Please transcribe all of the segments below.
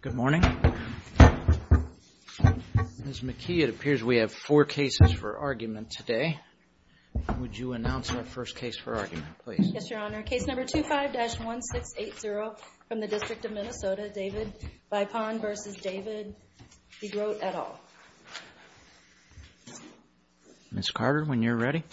Good morning. Ms. McKee, it appears we have four cases for argument today. Would you announce our first case for argument, please? Yes, Your Honor. Case number 25-1680 from the District of Minnesota, David Vipond v. David DeGroat, et al. Ms. Carter, when you're ready.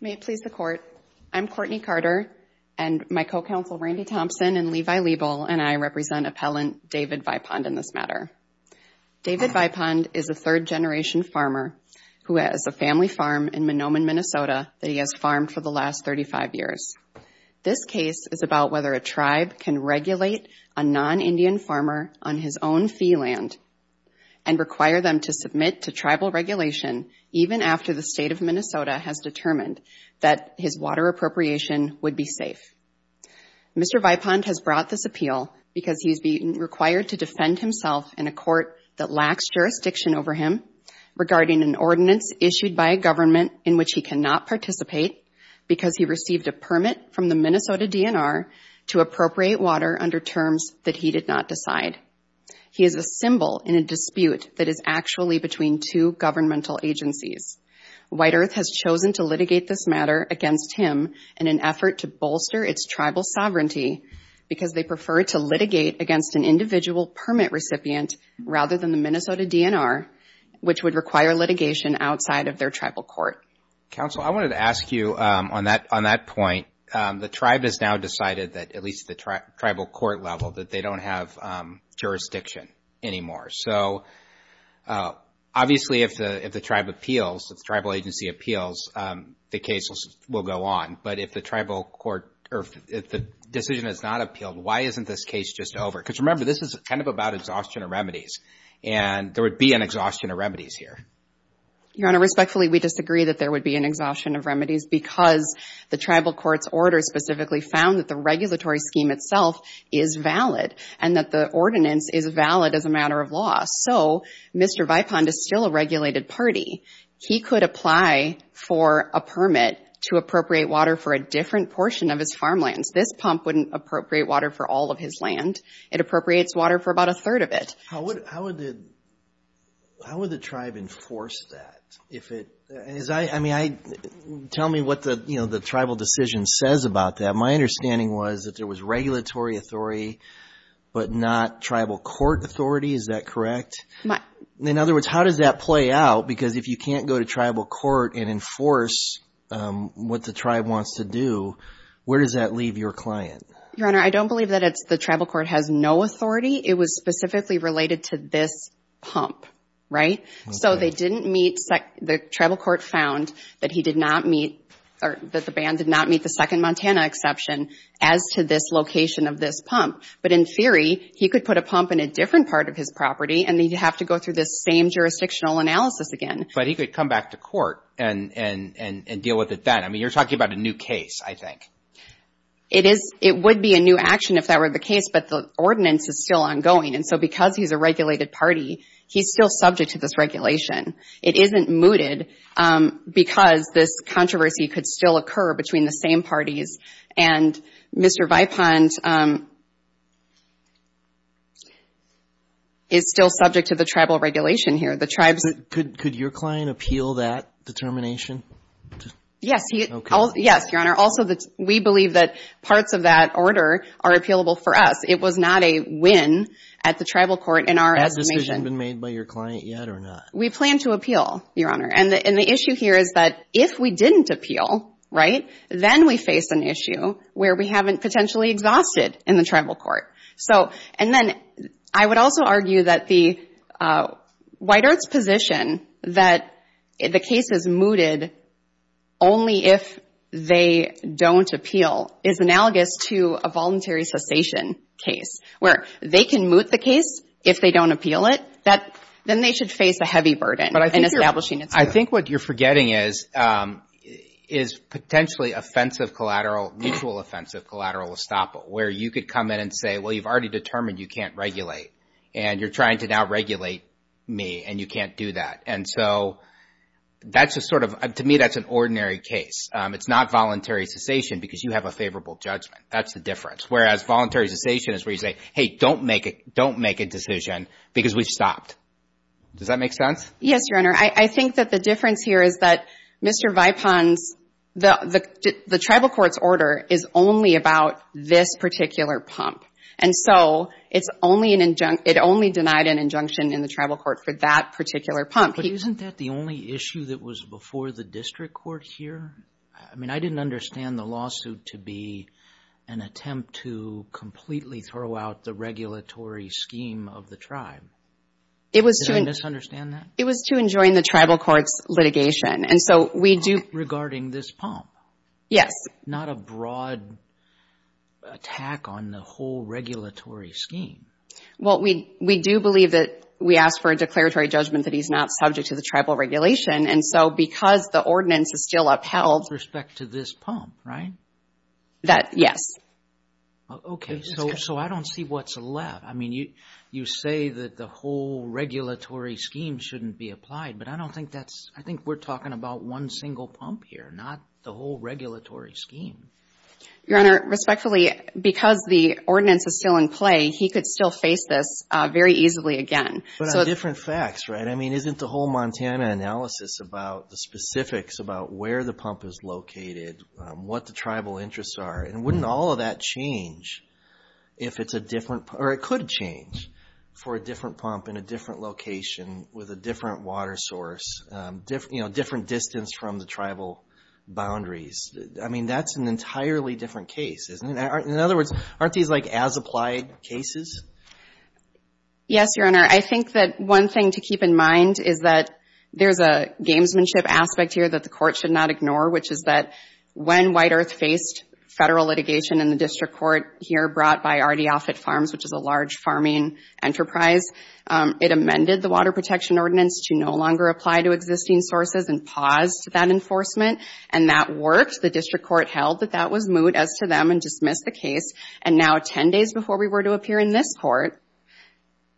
May it please the Court, I'm Courtney Carter and my co-counsel Randy Thompson and Levi Liebel and I represent appellant David Vipond in this matter. David Vipond is a third generation farmer who has a family farm in Minnoman, Minnesota that he has farmed for the last 35 years. This case is about whether a tribe can regulate a non-Indian farmer on his own fee land and require them to submit to tribal regulation even after the state of Minnesota has determined that his water appropriation would be safe. Mr. Vipond has brought this appeal because he's being required to defend himself in a court that lacks jurisdiction over him regarding an ordinance issued by a government in which he cannot participate because he received a permit from the Minnesota DNR to appropriate water under terms that he did not decide. He is a symbol in a dispute that is actually between two governmental agencies. White Earth has chosen to litigate this matter against him in an effort to bolster its tribal sovereignty because they prefer it to litigate against an individual permit recipient rather than the Minnesota DNR which would require litigation outside of their tribal court. Counsel, I wanted to ask you on that point, the tribe has now decided that at least the tribal court level that they don't have jurisdiction anymore. So, obviously if the tribe appeals, if the tribal agency appeals, the case will go on. But if the tribal court or if the decision is not appealed, why isn't this case just over? Because remember, this is kind of about exhaustion of remedies and there would be an exhaustion of remedies here. Your Honor, respectfully, we disagree that there would be an exhaustion of remedies because the tribal court's order specifically found that the regulatory scheme itself is valid and that the ordinance is valid as a matter of law. So, Mr. Vipond is still a regulated party. He could apply for a permit to appropriate water for a different portion of his farmlands. This pump wouldn't appropriate water for all of his land. It appropriates water for about a third of it. How would the tribe enforce that? Tell me what the tribal decision says about that. My understanding was that there was regulatory authority but not tribal court authority. Is that correct? In other words, how does that play out? Because if you can't go to the tribal court and enforce what the tribe wants to do, where does that leave your client? Your Honor, I don't believe that the tribal court has no authority. It was specifically related to this pump, right? So, they didn't meet – the tribal court found that he did not meet or that the ban did not meet the second Montana exception as to this location of this pump. But in theory, he could put a pump in a different part of his property and he'd have to go through this same jurisdictional analysis again. But he could come back to court and deal with it then. I mean, you're talking about a new case, I think. It would be a new action if that were the case, but the ordinance is still ongoing. And so, because he's a regulated party, he's still subject to this regulation. It isn't mooted because this controversy could still occur between the same parties. And Mr. Vypond is still subject to the tribal regulation here. The tribes... Could your client appeal that determination? Yes. Yes, Your Honor. Also, we believe that parts of that order are appealable for us. It was not a win at the tribal court in our estimation. Has a decision been made by your client yet or not? We plan to appeal, Your Honor. And the issue here is that if we didn't appeal, right, then we face an issue where we haven't potentially exhausted in the tribal court. And then, I would also argue that the White Earth's position that the case is mooted only if they don't appeal is analogous to a voluntary cessation case, where they can moot the case if they don't appeal it. Then they should face a heavy burden in establishing it. I think what you're forgetting is potentially offensive collateral, mutual offensive collateral estoppel, where you could come in and say, well, you've already determined you can't regulate and you're trying to now regulate me and you can't do that. And so, that's a sort of... To me, that's an ordinary case. It's not voluntary cessation because you have a favorable judgment. That's the difference. Whereas voluntary cessation is where you say, hey, don't make a decision because we've stopped. Does that make sense? Yes, Your Honor. I think that the difference here is that Mr. Vypond's... The tribal court's order is only about this particular pump. And so, it only denied an injunction in the tribal court for that particular pump. But isn't that the only issue that was before the district court here? I mean, I didn't understand the lawsuit to be an attempt to completely throw out the regulatory scheme of the tribe. Did I misunderstand that? It was to enjoin the tribal court's litigation. And so, we do... Regarding this pump? Yes. That's not a broad attack on the whole regulatory scheme. Well, we do believe that we ask for a declaratory judgment that he's not subject to the tribal regulation. And so, because the ordinance is still upheld... With respect to this pump, right? That, yes. Okay. So, I don't see what's left. I mean, you say that the whole regulatory scheme shouldn't be applied, but I don't think that's... I think we're talking about one single pump here, not the whole regulatory scheme. Your Honor, respectfully, because the ordinance is still in play, he could still face this very easily again. But on different facts, right? I mean, isn't the whole Montana analysis about the specifics about where the pump is located, what the tribal interests are, and wouldn't all of that change if it's a different... Or it could change for a different pump in a different location with a different water source, different distance from the tribal boundaries. I mean, that's an entirely different case, isn't it? In other words, aren't these like as-applied cases? Yes, Your Honor. I think that one thing to keep in mind is that there's a gamesmanship aspect here that the court should not ignore, which is that when White Earth faced federal litigation in the district court here brought by RD Offutt Farms, which is a large farming enterprise, it amended the Water Protection Ordinance to no longer apply to existing sources and paused that enforcement. And that worked. The district court held that that was moot as to them and dismissed the case. And now 10 days before we were to appear in this court,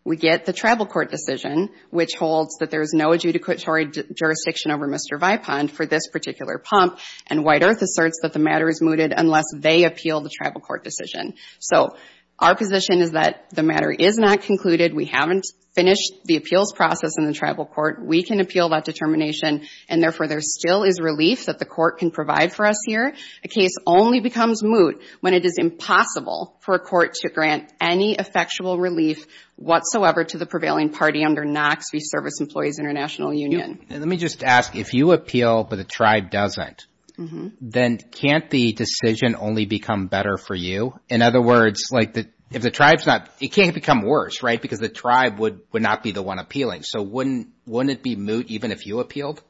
we get the tribal court decision, which holds that there's no adjudicatory jurisdiction over Mr. Vipund for this particular pump. And White Earth asserts that the matter is mooted unless they appeal the tribal court decision. So our position is that the matter is not concluded. We haven't finished the appeals process in the tribal court. We can appeal that determination. And therefore, there still is relief that the court can provide for us here. A case only becomes moot when it is impossible for a court to grant any effectual relief whatsoever to the prevailing party under Knox v. Service Employees International Union. Let me just ask, if you appeal but the tribe doesn't, then can't the decision only become better for you? In other words, like if the tribe's not, it can't become worse, right? Because the tribe would not be the one appealing. So wouldn't it be moot even if you appealed?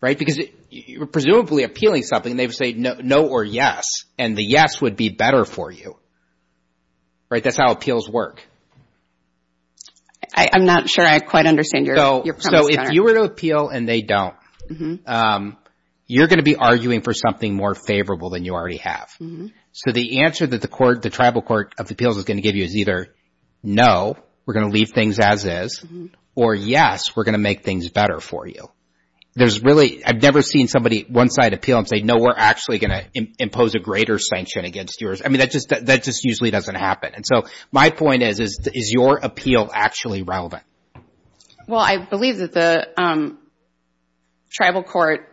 Right? Because you're presumably appealing something. They would say no or yes. And the yes would be better for you. Right? That's how appeals work. I'm not sure I quite understand your premise there. So if you were to appeal and they don't, you're going to be arguing for something more favorable than you already have. So the answer that the tribal court of appeals is going to give you is either no, we're going to leave things as is, or yes, we're going to make things better for you. I've never seen somebody one side appeal and say no, we're actually going to impose a greater sanction against yours. I mean, that just usually doesn't happen. And so my point is, is your appeal actually relevant? Well, I believe that the tribal court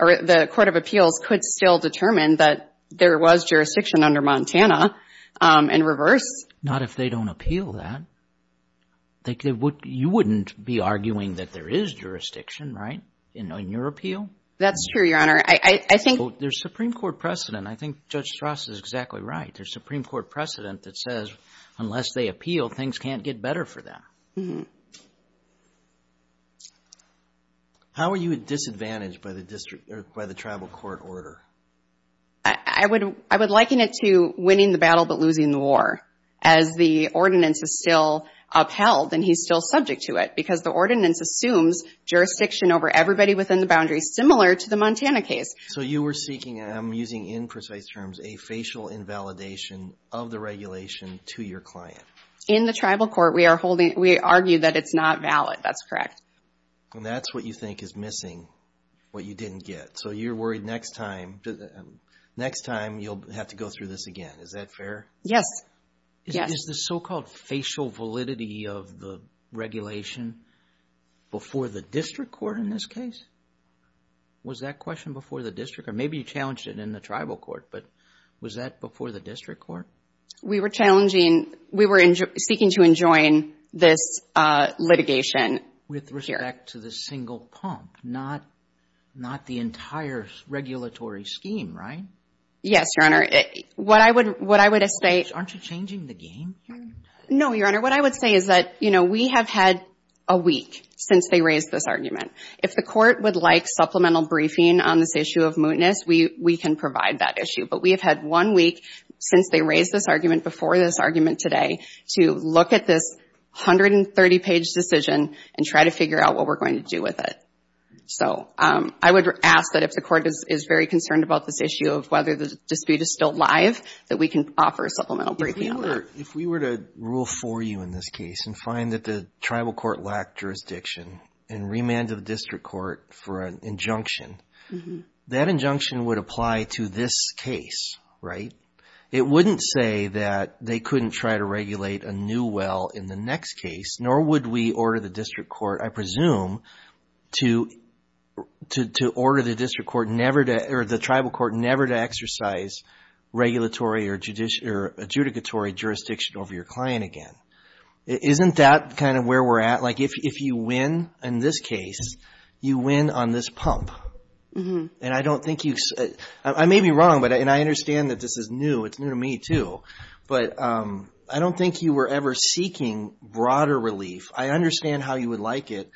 or the court of appeals could still determine whether there was jurisdiction under Montana in reverse. Not if they don't appeal that. You wouldn't be arguing that there is jurisdiction, right, in your appeal? That's true, Your Honor. I think... There's Supreme Court precedent. I think Judge Strauss is exactly right. There's Supreme Court precedent that says unless they appeal, things can't get better for them. How are you at disadvantage by the tribal court order? I would liken it to winning the battle but losing the war, as the ordinance is still upheld and he's still subject to it, because the ordinance assumes jurisdiction over everybody within the boundary, similar to the Montana case. So you were seeking, and I'm using imprecise terms, a facial invalidation of the regulation to your client. In the tribal court, we are holding... We argue that it's not valid. That's correct. And that's what you think is missing, what you didn't get. So you're worried next time, next time you'll have to go through this again. Is that fair? Yes. Yes. Is the so-called facial validity of the regulation before the district court in this case? Was that question before the district? Or maybe you challenged it in the tribal court, but was that before the district court? We were challenging... We were seeking to enjoin this litigation here. With respect to the single pump, not the entire regulatory scheme, right? Yes, Your Honor. What I would... Aren't you changing the game here? No, Your Honor. What I would say is that we have had a week since they raised this argument. If the court would like supplemental briefing on this issue of mootness, we can provide that issue. But we have had one week since they raised this argument before this argument today to look at this 130-page decision and try to figure out what we're going to do with it. So I would ask that if the court is very concerned about this issue of whether the dispute is still live, that we can offer a supplemental briefing on that. If we were to rule for you in this case and find that the tribal court lacked jurisdiction and remanded the district court for an injunction, that injunction would apply to this case, right? It wouldn't say that they couldn't try to regulate a new well in the next case, nor would we order the district court, I presume, to order the district court never to... Or the tribal court never to exercise regulatory or adjudicatory jurisdiction over your client again. Isn't that kind of where we're at? Like, if you win in this case, you win on this pump. And I don't think you... I may be wrong, and I understand that this is new. It's new to me, too. But I don't think you were ever seeking broader relief. I understand how you would like it.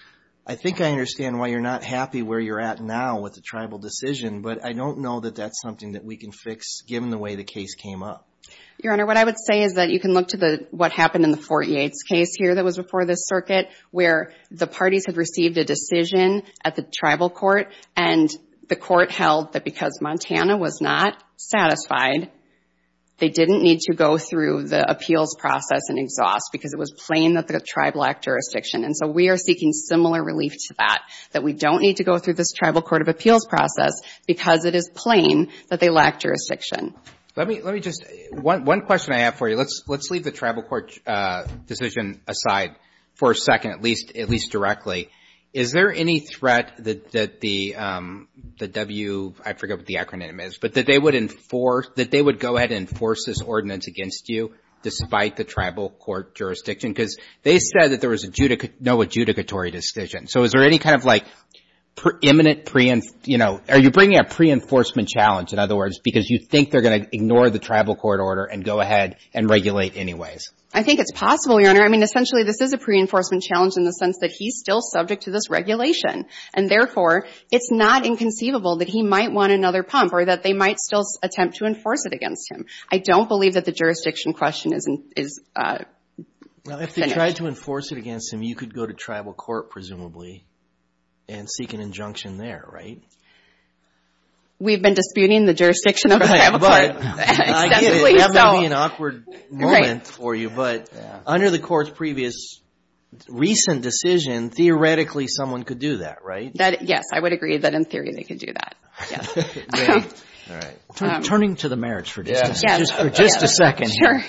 I think I understand why you're not happy where you're at now with the tribal decision, but I don't know that that's something that we can fix given the way the case came up. Your Honor, what I would say is that you can look to what happened in the Fort Yates case here that was before this circuit, where the parties had received a decision at the tribal court, and the court held that because Montana was not satisfied, they didn't need to go through the appeals process and exhaust because it was plain that the tribe lacked jurisdiction. And so we are seeking similar relief to that, that we don't need to go through this tribal court of appeals process because it is plain that they lacked jurisdiction. Let me just... One question I have for you. Let's leave the tribal court decision aside for a second, at least directly. Is there any threat that the W... I forget what the acronym is, but that they would enforce... that they would go ahead and enforce this ordinance against you despite the tribal court jurisdiction? Because they said that there was no adjudicatory decision. So is there any kind of like imminent... Are you bringing a pre-enforcement challenge, in other words, because you think they're going to ignore the tribal court order and go ahead and regulate anyways? I think it's possible, Your Honor. I mean, essentially, this is a pre-enforcement challenge in the sense that he's still subject to this regulation. And therefore, it's not inconceivable that he might want another pump or that they might still attempt to enforce it against him. I don't believe that the jurisdiction question is... Well, if they tried to enforce it against him, you could go to tribal court, presumably, and seek an injunction there, right? We've been disputing the jurisdiction of the tribal court extensively, so... I get it. That might be an awkward moment for you, but under the court's previous recent decision, theoretically, someone could do that, right? Yes, I would agree that, in theory, they could do that. Great. All right. Turning to the merits for just a second here,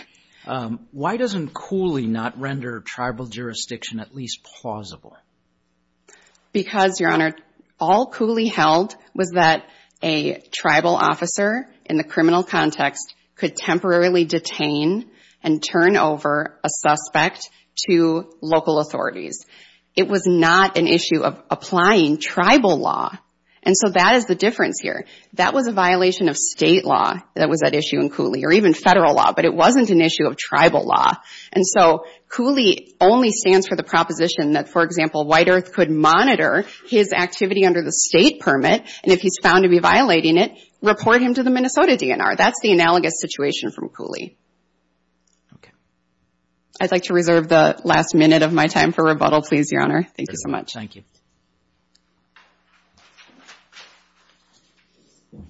why doesn't Cooley not render tribal jurisdiction at least plausible? Because, Your Honor, all Cooley held was that a tribal officer, in the criminal context, could temporarily detain and turn over a suspect to local authorities. It was not an issue of applying tribal law. And so that is the difference here. That was a violation of state law that was at issue in Cooley, or even federal law, but it wasn't an issue of tribal law. And so Cooley only stands for the proposition that, for example, White Earth could monitor his activity under the state permit, and if he's found to be violating it, report him to the Minnesota DNR. That's the analogous situation from Cooley. Okay. I'd like to reserve the last minute of my time for rebuttal, please, Your Honor. Thank you so much. Thank you. Good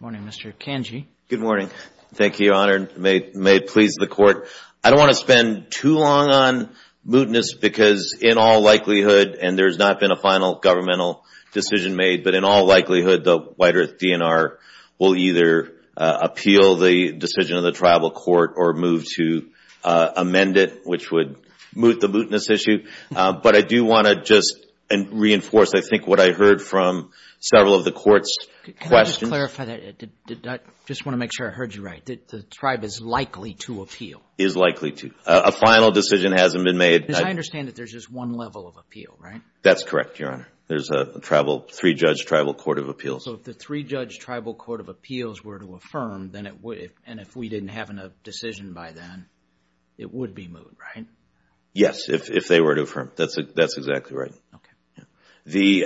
morning, Mr. Kanji. Good morning. Thank you, Your Honor. May it please the Court, I don't want to spend too long on mootness because, in all likelihood, and there's not been a final governmental decision made, but in all likelihood, the White Earth DNR will either appeal the decision of the tribal court or move to amend it, which would moot the mootness issue. But I do want to just reinforce, I think, what I heard from several of the Court's questions. Can I just clarify that? I just want to make sure I heard you right. The tribe is likely to appeal. Is likely to. A final decision hasn't been made. Because I understand that there's just one level of appeal, right? That's correct, Your Honor. There's a three-judge tribal court of appeals. So if the three-judge tribal court of appeals were to affirm, and if we didn't have a decision by then, it would be moot, right? Yes, if they were to affirm. That's exactly right. The,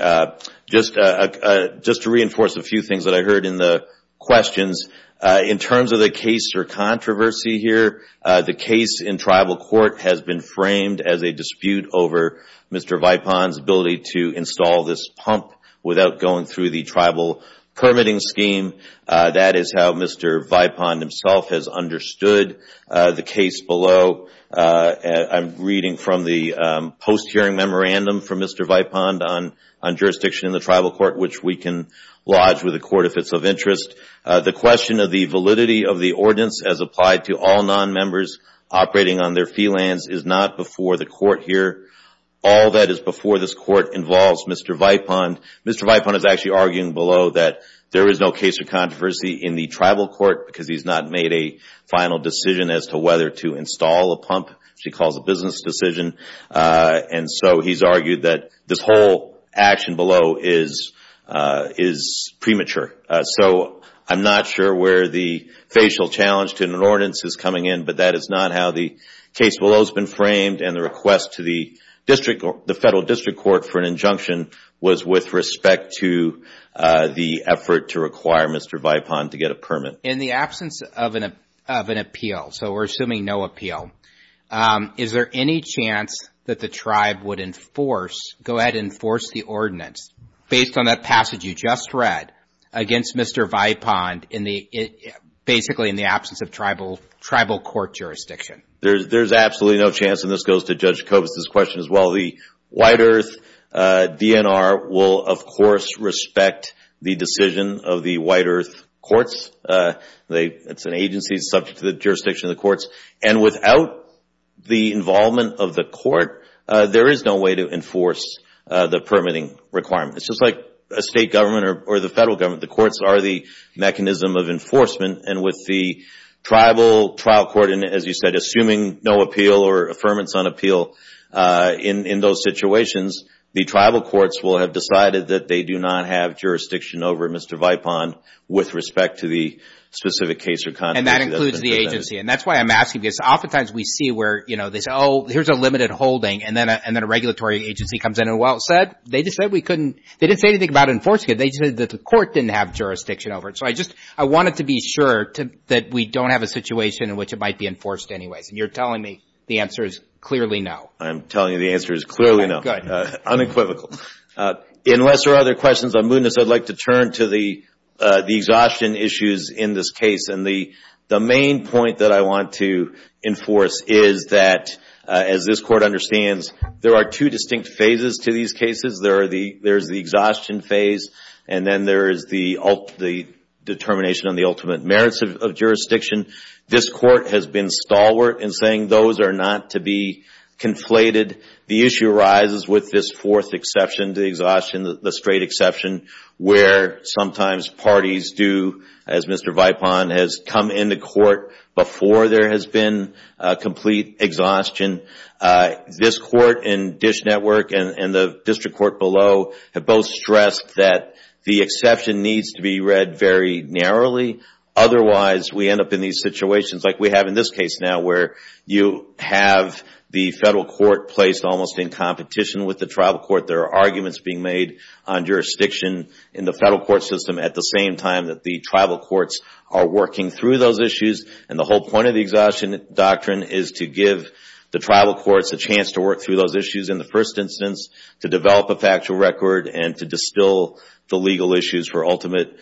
just to reinforce a few things that I heard in the questions, in terms of the case or controversy here, the case in tribal court has been framed as a dispute over Mr. Vipon's ability to install this pump without going through the tribal permitting scheme. That is how Mr. Vipon has understood the case below. I'm reading from the post-hearing memorandum from Mr. Vipon on jurisdiction in the tribal court, which we can lodge with the court if it's of interest. The question of the validity of the ordinance as applied to all non-members operating on their fee lands is not before the court here. All that is before this court involves Mr. Vipon. Mr. Vipon is actually arguing below that there is no case of controversy in the tribal court, because he's not made a final decision as to whether to install a pump, which he calls a business decision. He's argued that this whole action below is premature. I'm not sure where the facial challenge to an ordinance is coming in, but that is not how the case below has been framed. The request to the federal district court for an injunction was with respect to the effort to require Mr. Vipon to get a permit. In the absence of an appeal, so we're assuming no appeal, is there any chance that the tribe would enforce the ordinance based on that passage you just read against Mr. Vipon basically in the absence of tribal court jurisdiction? There's absolutely no chance, and this goes to Judge Kobus' question as well. The the decision of the White Earth Courts. It's an agency subject to the jurisdiction of the courts, and without the involvement of the court, there is no way to enforce the permitting requirement. It's just like a state government or the federal government. The courts are the mechanism of enforcement, and with the tribal trial court, and as you said, assuming no appeal or affirmance on in those situations, the tribal courts will have decided that they do not have jurisdiction over Mr. Vipon with respect to the specific case. And that includes the agency, and that's why I'm asking because oftentimes we see where they say, oh, here's a limited holding, and then a regulatory agency comes in, and well said. They just said we couldn't. They didn't say anything about enforcing it. They just said that the court didn't have jurisdiction over it, so I just I wanted to be sure that we don't have a situation in which it might be enforced anyways, and you're telling me the answer is clearly no. I'm telling you the answer is clearly no. Unequivocal. Unless there are other questions on mootness, I'd like to turn to the exhaustion issues in this case, and the main point that I want to enforce is that, as this Court understands, there are two distinct phases to these cases. There's the exhaustion phase, and then there is the determination on the ultimate to be conflated. The issue arises with this fourth exception to exhaustion, the straight exception, where sometimes parties do, as Mr. Vipon has come into court before there has been complete exhaustion. This Court and DISH Network and the District Court below have both stressed that the exception needs to be read very narrowly. Otherwise, we end up in these situations like we are in this case now, where you have the federal court placed almost in competition with the tribal court. There are arguments being made on jurisdiction in the federal court system at the same time that the tribal courts are working through those issues, and the whole point of the exhaustion doctrine is to give the tribal courts a chance to work through those issues in the first instance, to develop a factual record, and to distill the legal issues for ultimate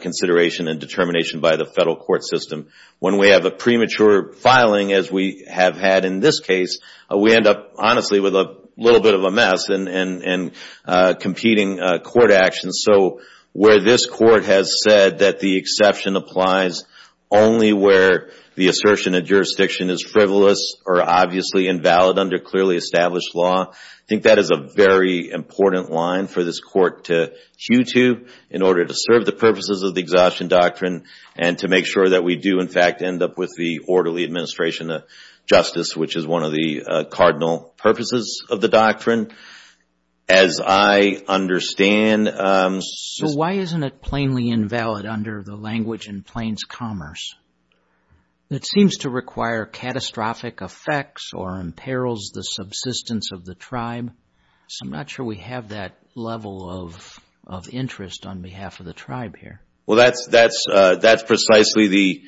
consideration and determination by the federal court system. When we have a premature filing, as we have had in this case, we end up honestly with a little bit of a mess and competing court actions. Where this Court has said that the exception applies only where the assertion of jurisdiction is frivolous or obviously invalid under clearly established law, I think that is a very important line for this Court to hew to in order to serve the purposes of the exhaustion doctrine and to make sure that we do in fact end up with the orderly administration of justice, which is one of the cardinal purposes of the doctrine. As I understand... Why isn't it plainly invalid under the language in Plains Commerce? It seems to require catastrophic effects or imperils the subsistence of the tribe. So I'm not sure we have that level of interest on behalf of the tribe here. Well, that's precisely the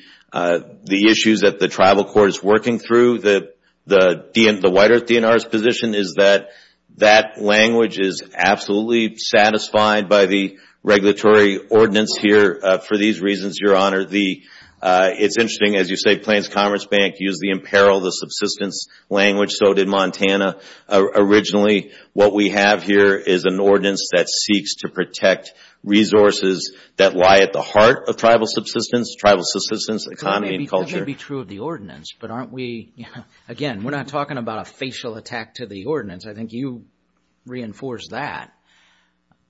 issues that the tribal court is working through. The White Earth DNR's position is that that language is absolutely satisfied by the regulatory ordinance here for these reasons, Your Honor. It's interesting, as you say, Plains Commerce Bank used the imperil, the subsistence language, so did Montana originally. What we have here is an ordinance that seeks to protect resources that lie at the heart of tribal subsistence, tribal subsistence economy and culture. That may be true of the ordinance, but aren't we... Again, we're not talking about a facial attack to the ordinance. I think you reinforce that.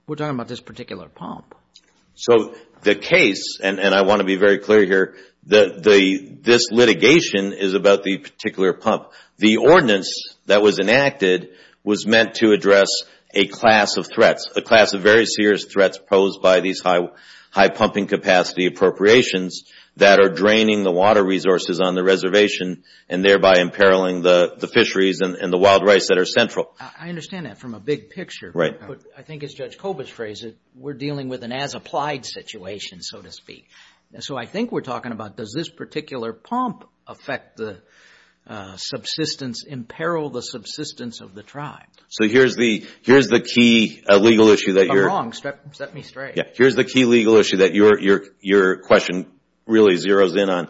We're talking about this particular pump. So the case, and I want to be very clear here, this litigation is about the particular pump. The ordinance that was enacted was meant to address a class of threats, a class of very serious threats posed by these high pumping capacity appropriations that are draining the water resources on the reservation and thereby imperiling the fisheries and the wild rice that are central. I understand that from a big picture, but I think it's Judge Koba's phrase that we're dealing with an as-applied situation, so to speak. So I think we're talking about, does this particular pump affect the subsistence, imperil the subsistence of the tribe? So here's the key legal issue that you're... I'm wrong. Set me straight. Here's the key legal issue that your question really zeroes in on.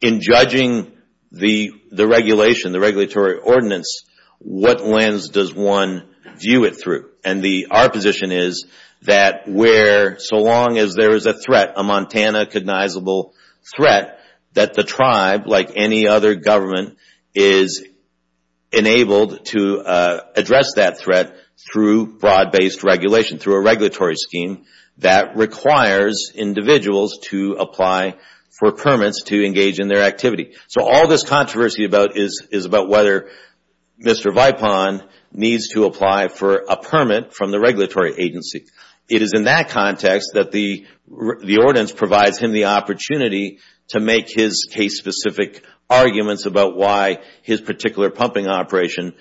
In judging the regulation, the regulatory ordinance, what lens does one view it through? Our position is that where, so long as there is a threat, a Montana recognizable threat, that the tribe, like any other government, is enabled to address that threat through broad-based regulation, through a regulatory scheme that requires individuals to apply for permits to engage in their activity. So all this controversy is about whether Mr. Vipon needs to apply for a permit from the regulatory agency. It is in that context that the ordinance provides him the opportunity to make his case-specific arguments about why his particular pumping operation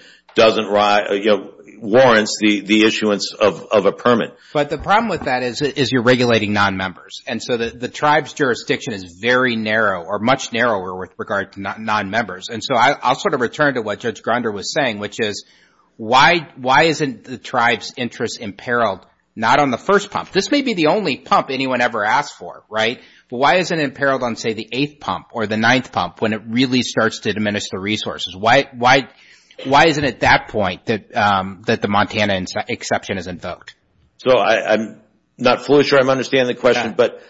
warrants the issuance of a permit. But the problem with that is you're regulating non-members, and so the tribe's jurisdiction is very narrow or much narrower with regard to non-members. And so I'll sort of return to what Judge Grunder was saying, which is why isn't the tribe's interest imperiled not on the first pump? This may be the only pump anyone ever asked for, right? But why isn't it imperiled on, say, the eighth pump or the ninth pump when it really starts to diminish the resources? Why isn't it at that point that the Montana exception is invoked? So I'm not fully sure I'm understanding the question, but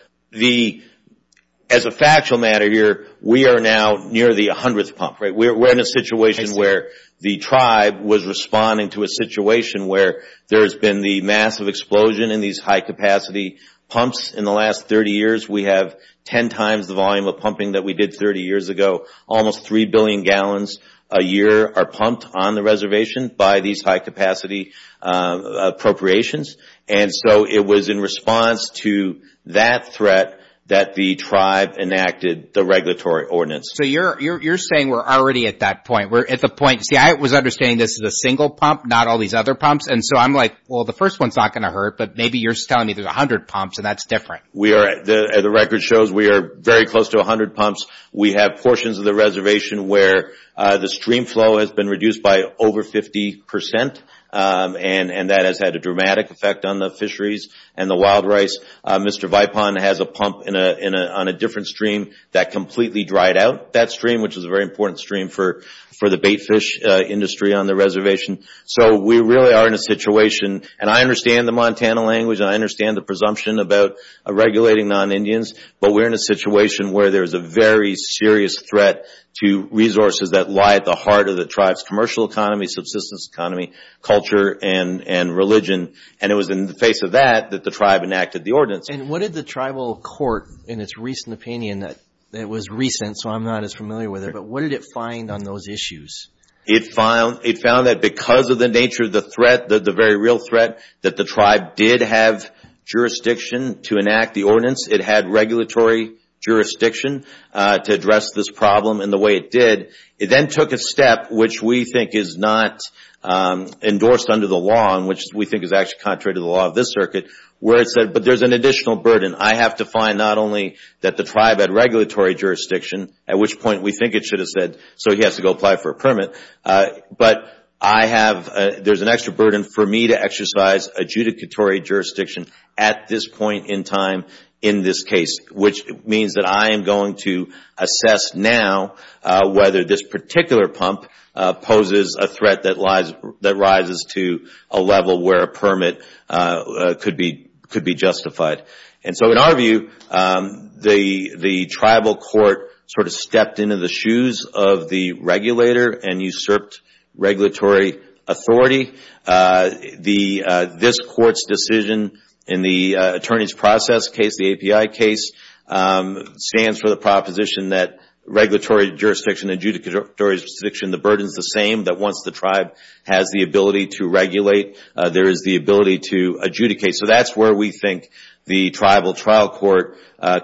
as a factual matter here, we are now near the 100th pump, right? We're in a situation where the tribe was responding to a situation where there has been the massive explosion in these high-capacity pumps in the last 30 years. We have 10 times the volume of pumping that we did 30 years ago. Almost 3 billion gallons a year are pumped on the reservation by these high-capacity appropriations. And so it was in response to that threat that the tribe enacted the regulatory ordinance. So you're saying we're already at that point. We're at the point – see, I was understanding this as a single pump, not all these other pumps. And so I'm like, well, the first one's not going to hurt, but maybe you're telling me there's 100 pumps and that's different. We are – the record shows we are very close to 100 pumps. We have portions of the reservation where the stream flow has been reduced by over 50 percent, and that has had a dramatic effect on the fisheries and the wild rice. Mr. Vipon has a pump on a different stream that completely dried out that stream, which is a very important stream for the baitfish industry on the reservation. So we really are in a situation – and I understand the Montana language and I understand the presumption about regulating non-Indians, but we're in a situation where there's a very serious threat to resources that lie at the heart of the tribe's commercial economy, subsistence economy, culture, and religion. And it was in the face of that that the tribe enacted the ordinance. And what did the tribal court, in its recent opinion – it was recent, so I'm not as familiar with it – but what did it find on those issues? It found that because of the nature of the threat, the very real threat, that the tribe did have jurisdiction to enact the ordinance. It had regulatory jurisdiction to address this problem in the way it did. It then took a step which we think is not endorsed under the law and which we think is actually contrary to the law of this circuit, where it said, but there's an additional burden. I have to find not only that the tribe had regulatory jurisdiction, at which point we think it should have said, so he has to go apply for a permit, but I have – there's an extra burden for me to exercise adjudicatory jurisdiction at this point in time in this case, which means that I am going to assess now whether this particular pump poses a threat that rises to a level where a permit could be justified. And so in our view, the tribal court sort of stepped into the shoes of the regulator and usurped regulatory authority. This court's decision in the attorney's process case, the API case, stands for the proposition that regulatory jurisdiction and adjudicatory jurisdiction, the burden is the same, that once the tribe has the ability to regulate, there is the ability to adjudicate. So that's where we think the tribal trial court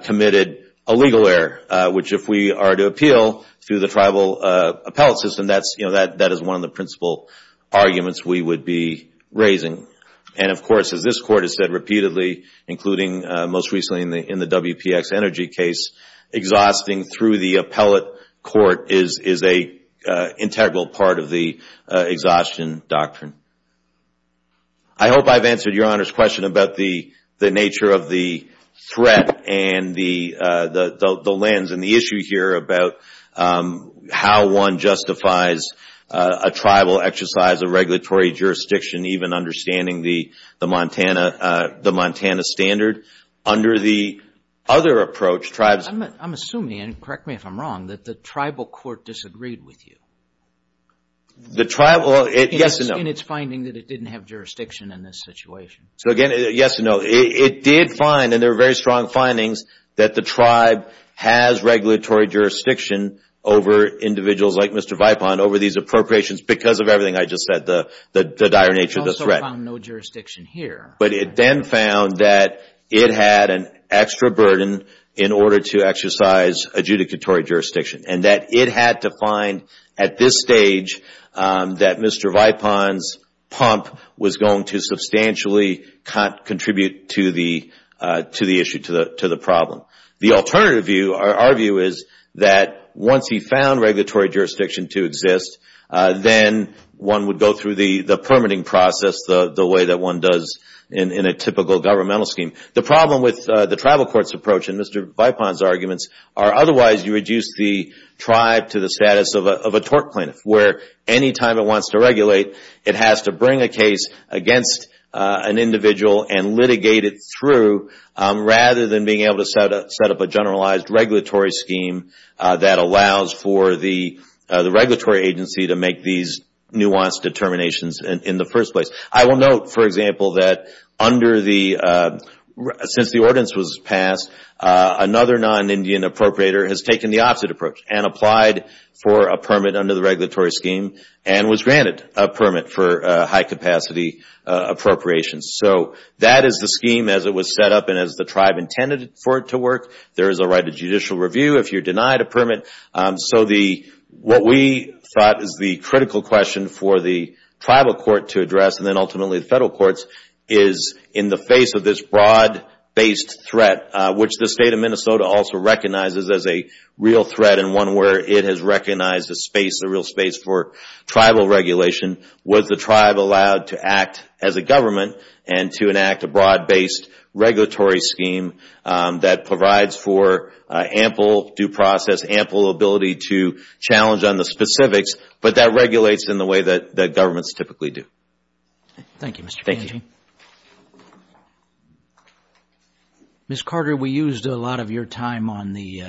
committed a legal error, which if we are to appeal through the tribal appellate system, that is one of the principal arguments we would be raising. And of course, as this court has said repeatedly, including most recently in the WPX Energy case, exhausting through the appellate court is an integral part of the exhaustion doctrine. I hope I've answered Your Honor's question about the nature of the threat and the lens and the issue here about how one justifies a tribal exercise of regulatory jurisdiction, even understanding the Montana standard. Under the other approach, tribes... I'm assuming, and correct me if I'm wrong, that the tribal court disagreed with you. The tribal... Yes and no. In its finding that it didn't have jurisdiction in this situation. So again, yes and no. It did find, and there were very strong findings, that the tribe has regulatory jurisdiction over individuals like Mr. Vipon over these appropriations because of everything I just said, the dire nature of the threat. It also found no jurisdiction here. But it then found that it had an extra burden in order to exercise adjudicatory jurisdiction and that it had to find at this stage that Mr. Vipon's pump was going to substantially contribute to the issue, to the problem. The alternative view, our view, is that once he found regulatory jurisdiction to exist, then one would go through the permitting process the way that one does in a typical governmental scheme. The problem with the tribal court's approach and Mr. Vipon's arguments are otherwise you reduce the tribe to the status of a tort plaintiff, where any time it wants to regulate, it has to bring a case against an individual and litigate it through, rather than being able to set up a generalized regulatory scheme that allows for the regulatory agency to make these nuanced determinations in the first place. I will note, for example, that under the, since the ordinance was passed, another non-Indian appropriator has taken the opposite approach and applied for a permit under the regulatory scheme and was granted a permit for high-capacity appropriations. So that is the scheme as it was set up and as the tribe intended for it to work. There is a right to judicial review if you're denied a permit. So what we thought is the critical question for the tribal court to address and then ultimately the federal courts is in the face of this broad-based threat, which the State of Minnesota also recognizes as a real threat and one where it has recognized a space, a real space for tribal regulation, was the tribe allowed to act as a government and to enact a broad-based regulatory scheme that provides for ample due process, ample ability to challenge on the specifics, but that regulates in the way that governments typically do. Thank you, Mr. Kanji. Thank you. Ms. Carter, we used a lot of your time on the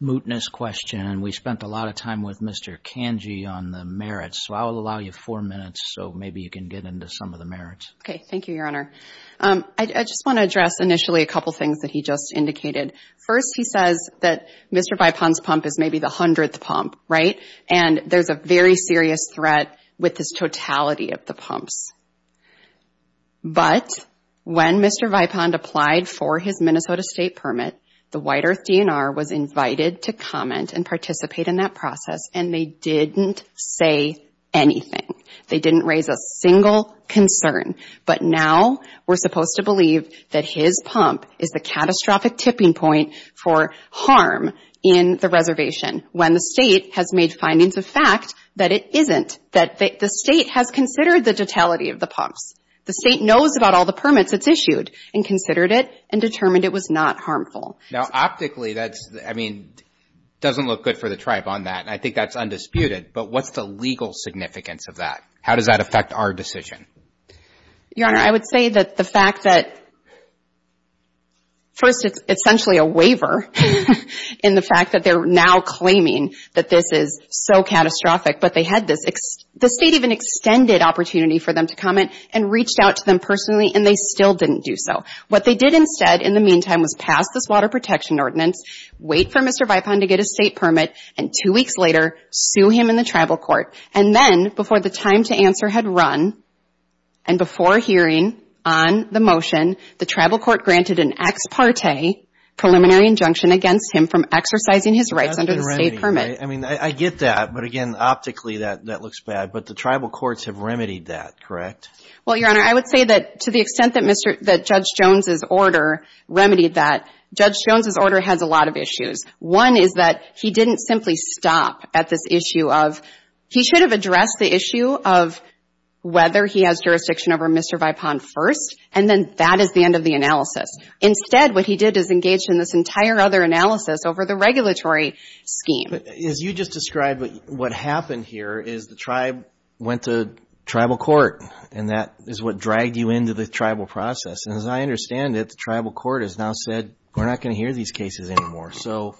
mootness question and we spent a lot of time with Mr. Kanji on the merits, so I will allow you four minutes so maybe you can get into some of the merits. Okay. Thank you, Your Honor. I just want to address initially a couple things that he just indicated. First he says that Mr. Bipan's pump is maybe the hundredth pump, right? And there's a very serious threat with this totality of the pumps. But when Mr. Bipan applied for his Minnesota state permit, the White Earth DNR was invited to comment and participate in that process and they didn't say anything. They didn't raise a single concern. But now we're supposed to believe that his pump is the catastrophic tipping point for harm in the reservation when the state has made findings of fact that it isn't, that the state has considered the totality of the pumps. The state knows about all the permits it's issued and considered it and determined it was not harmful. Now, optically, that's, I mean, doesn't look good for the tribe on that and I think that's undisputed. But what's the legal significance of that? How does that affect our decision? Your Honor, I would say that the fact that first it's essentially a waiver in the fact that they're now claiming that this is so catastrophic, but they had this, the state even extended opportunity for them to comment and reached out to them personally and they still didn't do so. What they did instead in the meantime was pass this water protection ordinance, wait for Mr. Bipan to get a state permit, and two weeks later, sue him in the tribal court. And then, before the time to answer had run and before hearing on the motion, the tribal court granted an ex parte preliminary injunction against him from exercising his rights under the state permit. I mean, I get that, but again, optically that looks bad, but the tribal courts have remedied that, correct? Well, Your Honor, I would say that to the extent that Judge Jones' order remedied that, Judge Jones' order has a lot of issues. One is that he didn't simply stop at this issue of, he should have addressed the issue of whether he has jurisdiction over Mr. Bipan first, and then that is the end of the analysis. Instead, what he did is engage in this entire other analysis over the regulatory scheme. As you just described, what happened here is the tribe went to tribal court, and that is what dragged you into the tribal process. And as I understand it, the tribal court has now said, we're not going to hear these cases anymore. So,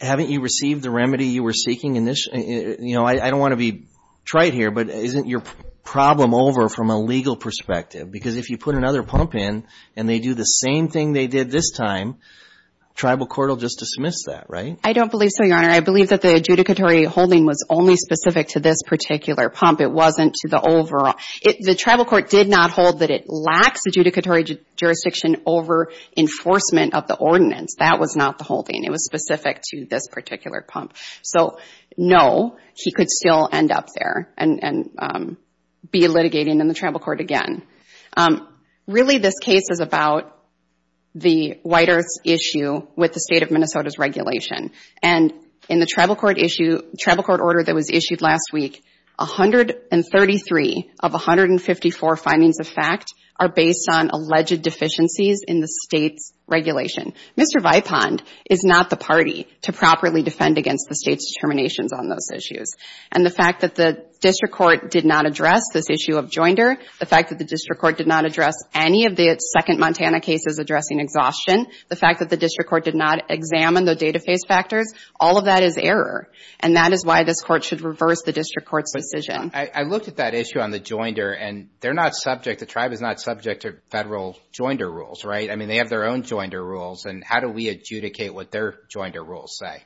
haven't you received the remedy you were seeking in this, you know, I don't want to be trite here, but isn't your problem over from a legal perspective? Because if you put another pump in, and they do the same thing they did this time, tribal court will just dismiss that, right? I don't believe so, Your Honor. I believe that the adjudicatory holding was only specific to this particular pump. It wasn't to the overall. The tribal court did not hold that it lacks adjudicatory jurisdiction over enforcement of the ordinance. That was not the holding. It was specific to this particular pump. So no, he could still end up there and be litigating in the tribal court again. Really this case is about the White Earths issue with the state of Minnesota's regulation. And in the tribal court issue, tribal court order that was issued last week, 133 of 154 findings of fact are based on alleged deficiencies in the state's regulation. Mr. Vipond is not the party to properly defend against the state's determinations on those issues. And the fact that the district court did not address this issue of joinder, the fact that the district court did not address any of the second Montana cases addressing exhaustion, the fact that the district court did not examine the data phase factors, all of that is error. And that is why this court should reverse the district court's decision. I looked at that issue on the joinder, and they're not subject, the tribe is not subject to federal joinder rules, right? I mean, they have their own joinder rules, and how do we adjudicate what their joinder rules say?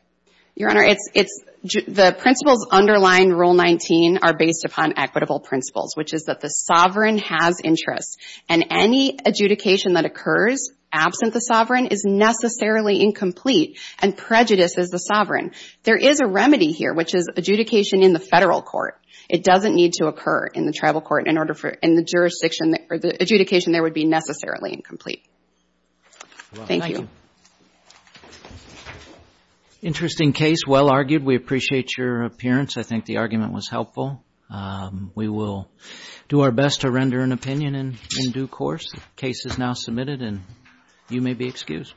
Your Honor, it's, the principles underlying Rule 19 are based upon equitable principles, which is that the sovereign has interests. And any adjudication that occurs absent the sovereign is necessarily incomplete and prejudices the sovereign. There is a remedy here, which is adjudication in the federal court. It doesn't need to occur in the tribal court in order for, in the jurisdiction or the adjudication there would be necessarily incomplete. Thank you. Interesting case, well argued. We appreciate your appearance. I think the argument was helpful. We will do our best to render an opinion in due course. Case is now submitted, and you may be excused.